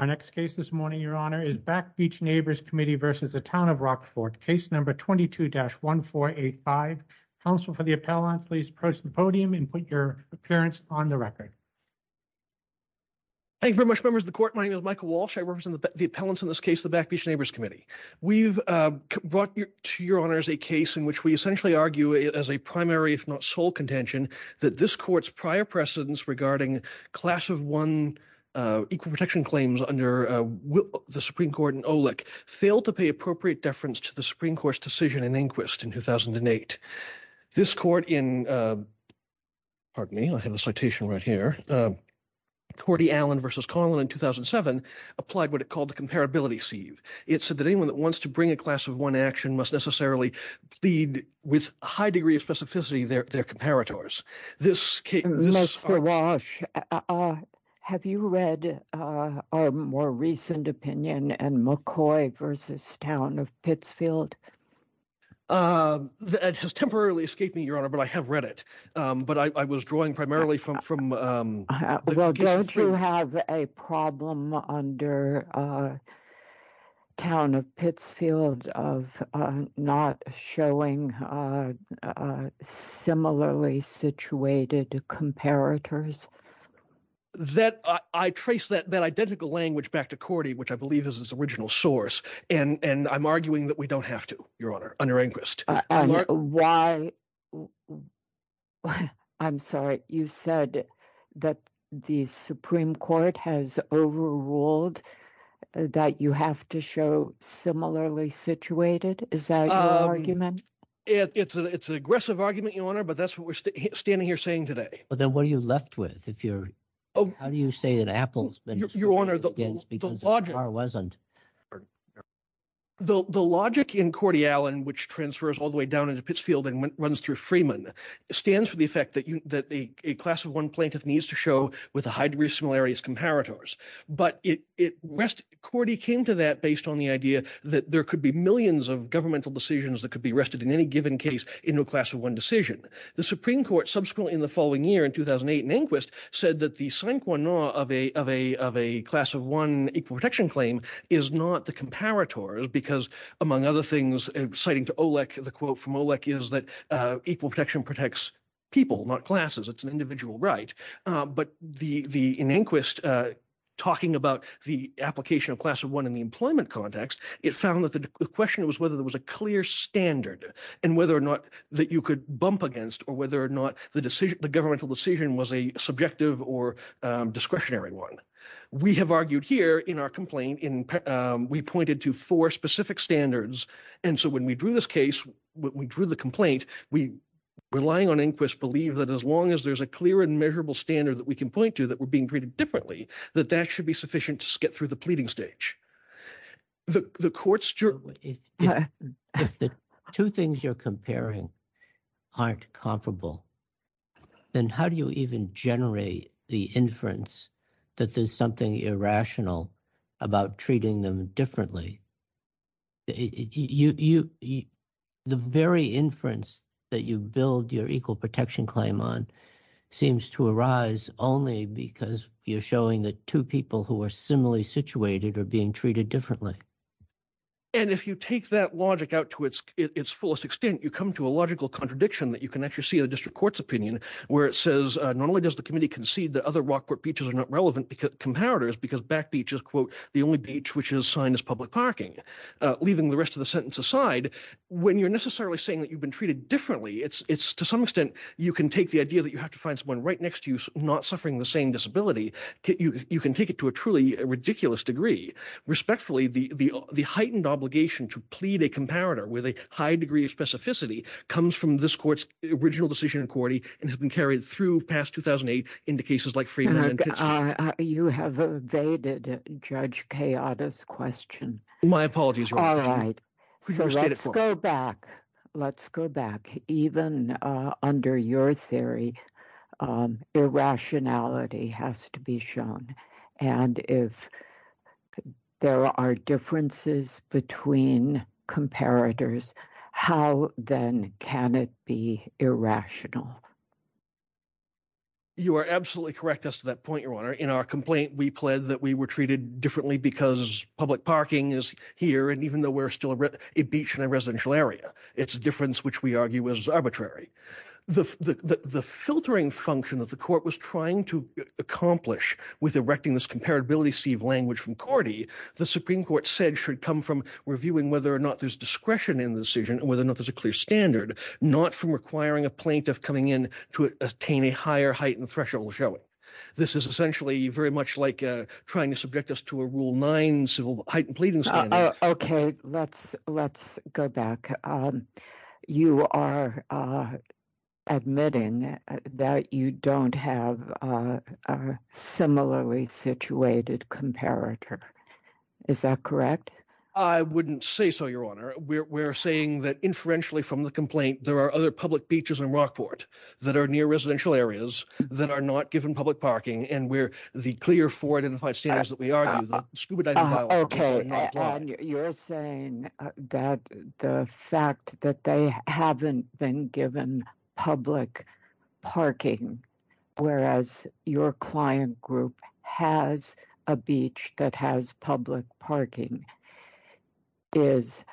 Our next case this morning, Your Honor, is Back Beach Neighbors Committee versus the Town of Rockport. Case number 22-1485. Counsel for the appellant, please approach the podium and put your appearance on the record. Thank you very much, members of the court. My name is Michael Walsh. I represent the appellants in this case, the Back Beach Neighbors Committee. We've brought to Your Honor's a case in which we essentially argue it as a primary, if not sole, contention that this court's prior precedence regarding class of one equal protection claims under the Supreme Court in OLEC failed to pay appropriate deference to the Supreme Court's decision in Inquist in 2008. This court in, pardon me, I have a citation right here, Cortey Allen v. Conlon in 2007 applied what it called the comparability sieve. It said that anyone that wants to bring a class of one action must necessarily plead with a high degree of specificity their comparators. Mr. Walsh, have you read our more recent opinion on McCoy v. Town of Pittsfield? It has temporarily escaped me, Your Honor, but I have read it. But I was drawing primarily from... Well, don't you have a problem under Town of Pittsfield of not showing similarly situated comparators? I traced that identical language back to Cortey, which I believe is his original source, and I'm arguing that we don't have to, Your Honor, under Inquist. Why? I'm sorry, you said that the Supreme Court has overruled that you have to show similarly situated? Is that your argument? It's an aggressive argument, Your Honor, but that's what we're standing here saying today. Well, then what are you left with? If you're, how do you say that Apple's been... Your Honor, the logic in Cortey Allen, which transfers all the way down into Pittsfield and runs through Freeman, stands for the effect that a class of one plaintiff needs to show with a high degree of similarity as comparators. But it rest, Cortey came to that based on the idea that there could be millions of governmental decisions that could be rested in any given case into a class of one decision. The Supreme Court subsequently in the following year in 2008 in Inquist said that the sine qua non of a class of one equal protection claim is not the comparators because, among other things, citing to Olek, the quote from Olek is that equal protection protects people, not classes. It's an individual right. But in Inquist, talking about the application of class of one in the employment context, it found that the question was whether there was a clear standard and whether or not that you could bump against or whether or not the decision, the governmental decision was a subjective or discretionary one. We have argued here in our complaint in we pointed to four specific standards. And so when we drew this case, we drew the complaint. We relying on Inquist believe that as long as there's a clear and measurable standard that we can point to that we're being treated differently, that that should be sufficient to get through the pleading stage. The courts, if the two things you're comparing aren't comparable. Then how do you even generate the inference that there's something irrational about treating them differently? You, the very inference that you build your equal protection claim on seems to arise only because you're showing that two people who are similarly situated are being treated differently. And if you take that logic out to its fullest extent, you come to a logical contradiction that you can actually see in the district court's opinion, where it says not only does the committee concede that other Rockport beaches are not relevant because comparators because back beach is, quote, the only beach, which is signed as public property, but it's not the only beach, which is signed as public property. Leaving the rest of the sentence aside, when you're necessarily saying that you've been treated differently, it's to some extent, you can take the idea that you have to find someone right next to you, not suffering the same disability. You can take it to a truly ridiculous degree. Respectfully, the heightened obligation to plead a comparator with a high degree of specificity comes from this court's original decision in court and has been carried through past 2008 into cases like. You have evaded judge chaotic question. My apologies. All right, so let's go back. Let's go back even under your theory. Irrationality has to be shown and if there are differences between comparators, how then can it be irrational? You are absolutely correct us to that point. Your honor in our complaint, we pled that we were treated differently because public parking is here. And even though we're still a beach in a residential area, it's a difference, which we argue is arbitrary the filtering function of the court was trying to accomplish with erecting this comparability of language from Cordy, the Supreme Court said should come from reviewing whether or not there's discretion in the decision and whether or not there's a clear standard not from requiring a plaintiff coming to the court to say, no, we're not going to do that. We're going to have to ask for a higher standard, not requiring a plaintiff coming in to attain a higher height and threshold. Shall we? This is essentially very much like trying to subject us to a rule 9 civil heightened pleading. Okay, let's let's go back. You are admitting that you don't have similarly situated comparator. Is that correct? I wouldn't say so. Your honor, we're saying that inferentially from the complaint, there are other public beaches in Rockport that are near residential areas that are not given public parking. And we're the clear for it in the fight standards that we are scuba diving. Okay, you're saying that the fact that they haven't been given public parking, whereas your client group has a beach that has public parking is.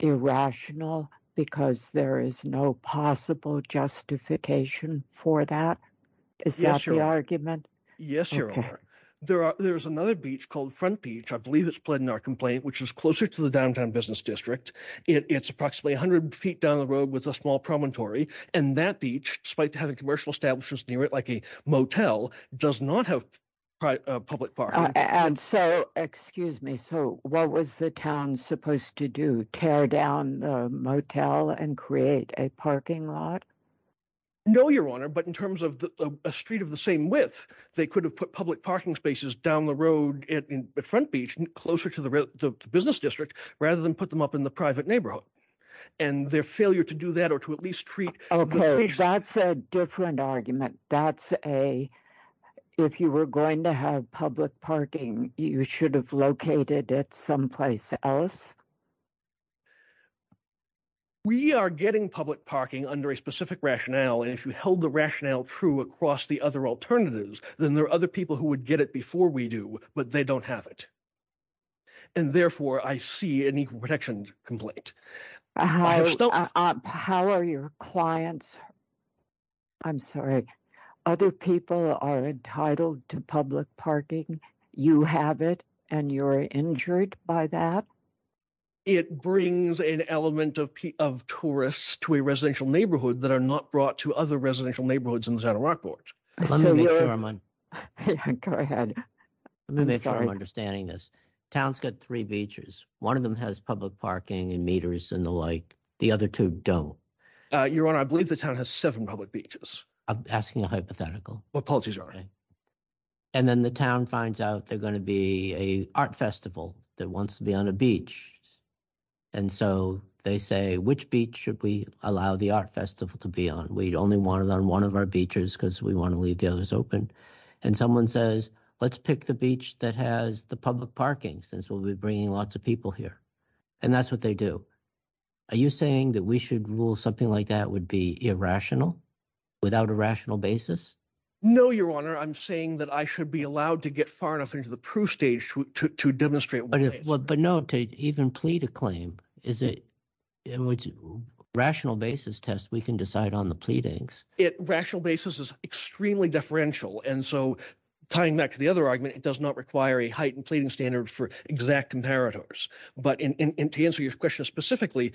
Irrational because there is no possible justification for that. Is that the argument? Yes, your honor. There are there's another beach called front beach. I believe it's pled in our complaint, which is closer to the downtown business district. It's approximately 100 feet down the road with a small promontory and that beach, despite having commercial establishments near it, like a motel does not have. Public park and so excuse me. So what was the town supposed to do? Tear down the motel and create a parking lot. No, your honor, but in terms of a street of the same width, they could have put public parking spaces down the road at front beach closer to the business district, rather than put them up in the private neighborhood and their failure to do that, or to at least treat. Okay. That's a different argument. That's a. If you were going to have public parking, you should have located it someplace else. We are getting public parking under a specific rationale and if you held the rationale true across the other alternatives, then there are other people who would get it before we do, but they don't have it. And therefore, I see an equal protection complaint. How are your clients? I'm sorry, other people are entitled to public parking. You have it and you're injured by that. It brings an element of of tourists to a residential neighborhood that are not brought to other residential neighborhoods in the center. Go ahead, I'm sorry, I'm understanding this town's got 3 beaches. 1 of them has public parking and meters in the light. The other 2 don't your honor. I believe the town has 7 public beaches. I'm asking a hypothetical what policies are and then the town finds out they're going to be a art festival that wants to be on a beach. And so they say, which beach should we allow the art festival to be on? We'd only wanted on 1 of our beaches because we want to leave the others open and someone says, let's pick the beach that has the public parking since we'll be bringing lots of people here. And that's what they do. Are you saying that we should rule something like that would be irrational. Without a rational basis, no, your honor, I'm saying that I should be allowed to get far enough into the proof stage to demonstrate, but no, to even plead a claim. Is it. Rational basis test, we can decide on the pleadings. It rational basis is extremely differential. And so tying back to the other argument, it does not require a heightened pleading standard for exact comparators. But to answer your question specifically,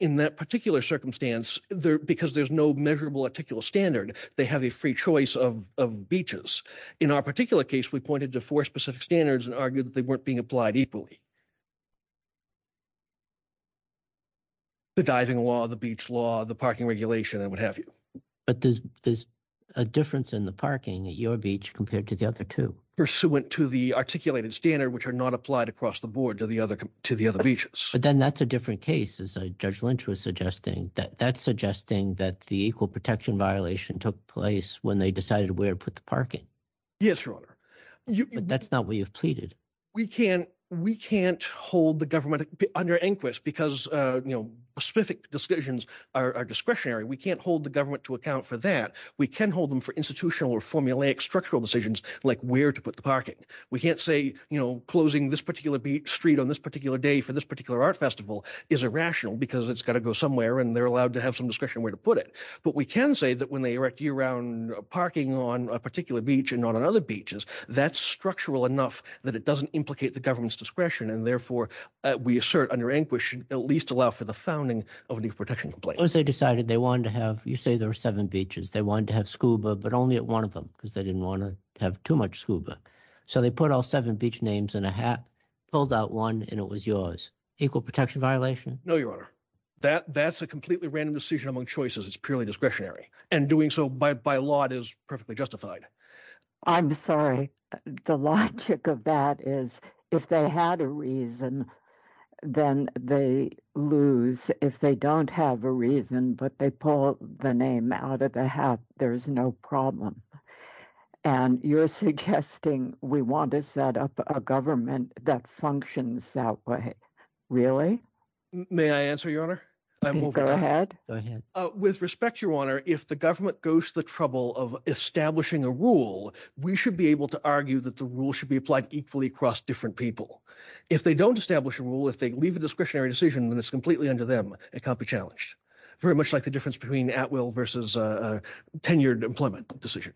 in that particular circumstance, because there's no measurable articular standard, they have a free choice of beaches. In our particular case, we pointed to 4 specific standards and argued that they weren't being applied equally. The diving law, the beach law, the parking regulation and what have you, but there's, there's a difference in the parking at your beach compared to the other 2 pursuant to the articulated standard, which are not applied across the board to the other to the other beaches. But then that's a different cases. I judge Lynch was suggesting that that's suggesting that the equal protection violation took place when they decided where to put the parking. Yes, your honor, but that's not what you've pleaded. We can't we can't hold the government under inquest because specific decisions are discretionary. We can't hold the government to account for that. We can hold them for institutional or formulaic structural decisions, like where to put the parking. We can't say closing this particular beach street on this particular day for this particular art festival is irrational because it's got to go somewhere and they're allowed to have some discretion where to put it. But we can say that when they erect year round parking on a particular beach and not on other beaches, that's structural enough that it doesn't implicate the government's discretion and therefore we assert under anguish at least allow for the founding of the protection. They decided they wanted to have you say there were 7 beaches. They wanted to have scuba, but only at 1 of them because they didn't want to have too much scuba. So they put all 7 beach names in a hat pulled out 1 and it was yours equal protection violation. No, your honor that that's a completely random decision among choices. It's purely discretionary and doing so by by law. It is perfectly justified. I'm sorry the logic of that is if they had a reason. Then they lose if they don't have a reason, but they pull the name out of the hat. There is no problem. And you're suggesting we want to set up a government that functions that way. Really, may I answer your honor? Go ahead with respect your honor. If the government goes to the trouble of establishing a rule, we should be able to argue that the rule should be applied equally across different people. If they don't establish a rule, if they leave a discretionary decision, then it's completely under them. It can't be challenged very much like the difference between at will versus a 10 year employment decision.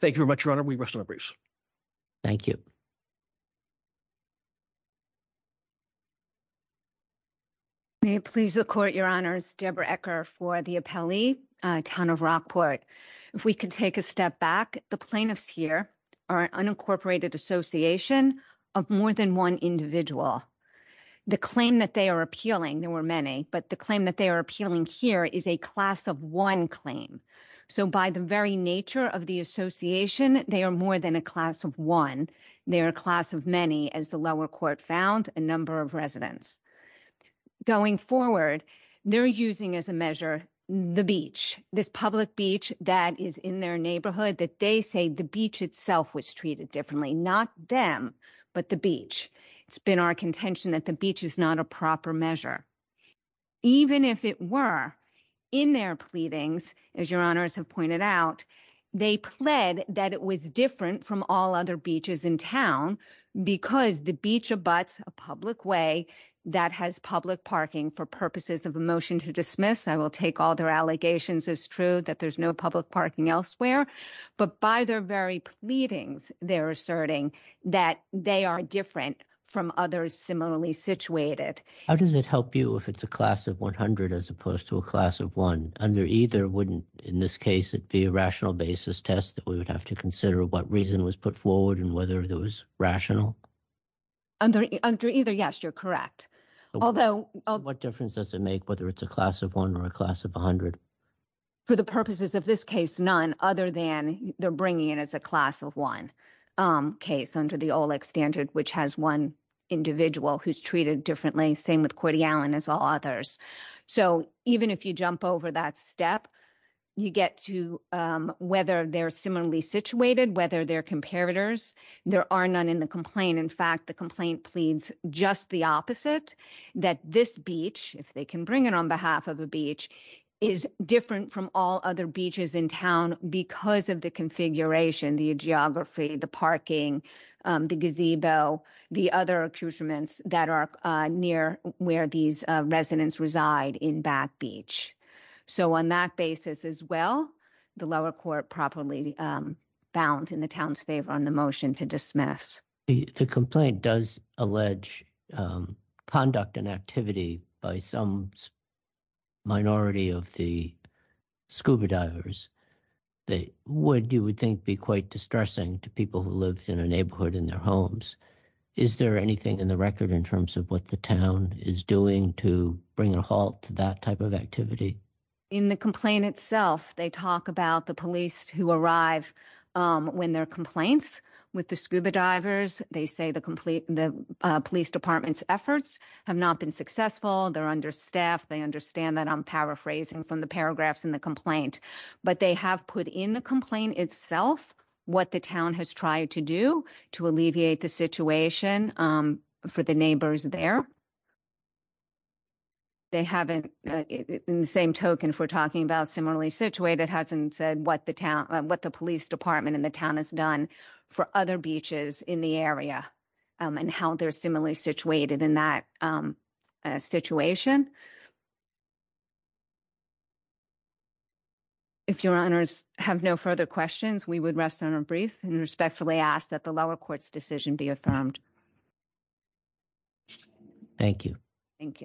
Thank you very much. Your honor. We rest of the briefs. Thank you. May it please the court your honors Deborah Ecker for the town of Rockport. If we can take a step back, the plaintiffs here are unincorporated association of more than 1 individual. The claim that they are appealing, there were many, but the claim that they are appealing here is a class of 1 claim. So, by the very nature of the association, they are more than a class of 1. They are a class of many as the lower court found a number of residents going forward. They're using as a measure the beach this public beach that is in their neighborhood that they say the beach itself was treated differently. Not them, but the beach, it's been our contention that the beach is not a proper measure. Even if it were in their pleadings, as your honors have pointed out, they pled that it was different from all other beaches in town because the beach of butts a public way that has public parking for purposes of a motion to dismiss. I will take all their allegations is true that there's no public parking elsewhere, but by their very meetings, they're asserting that they are different from others. Similarly situated. How does it help you if it's a class of 100, as opposed to a class of 1 under either wouldn't in this case, it'd be a rational basis test that we would have to consider what reason was put forward and whether there was rational. Under either yes, you're correct. Although what difference does it make whether it's a class of 1 or a class of 100. For the purposes of this case, none other than they're bringing in as a class of 1 case under the standard, which has 1 individual who's treated differently. Same with Cordial and as all others. So, even if you jump over that step, you get to whether they're similarly situated, whether their comparators, there are none in the complaint. In fact, the complaint pleads just the opposite that this beach, if they can bring it on behalf of a beach. Is different from all other beaches in town because of the configuration, the geography, the parking, the gazebo, the other accusements that are near where these residents reside in back beach. So, on that basis as well, the lower court properly balance in the town's favor on the motion to dismiss the complaint does allege conduct and activity by some. Minority of the scuba divers, they would, you would think be quite distressing to people who live in a neighborhood in their homes. Is there anything in the record in terms of what the town is doing to bring a halt to that type of activity in the complaint itself? They talk about the police who arrive when their complaints with the scuba divers. They say the complete the police department's efforts have not been successful. They're under staff. They understand that. I'm paraphrasing from the paragraphs in the complaint. But they have put in the complaint itself what the town has tried to do to alleviate the situation for the neighbors there. They haven't in the same token for talking about similarly situated hasn't said what the town, what the police department in the town has done for other beaches in the area and how they're similarly situated in that situation. If your honors have no further questions, we would rest on a brief and respectfully ask that the lower courts decision be affirmed. Thank you. Thank you.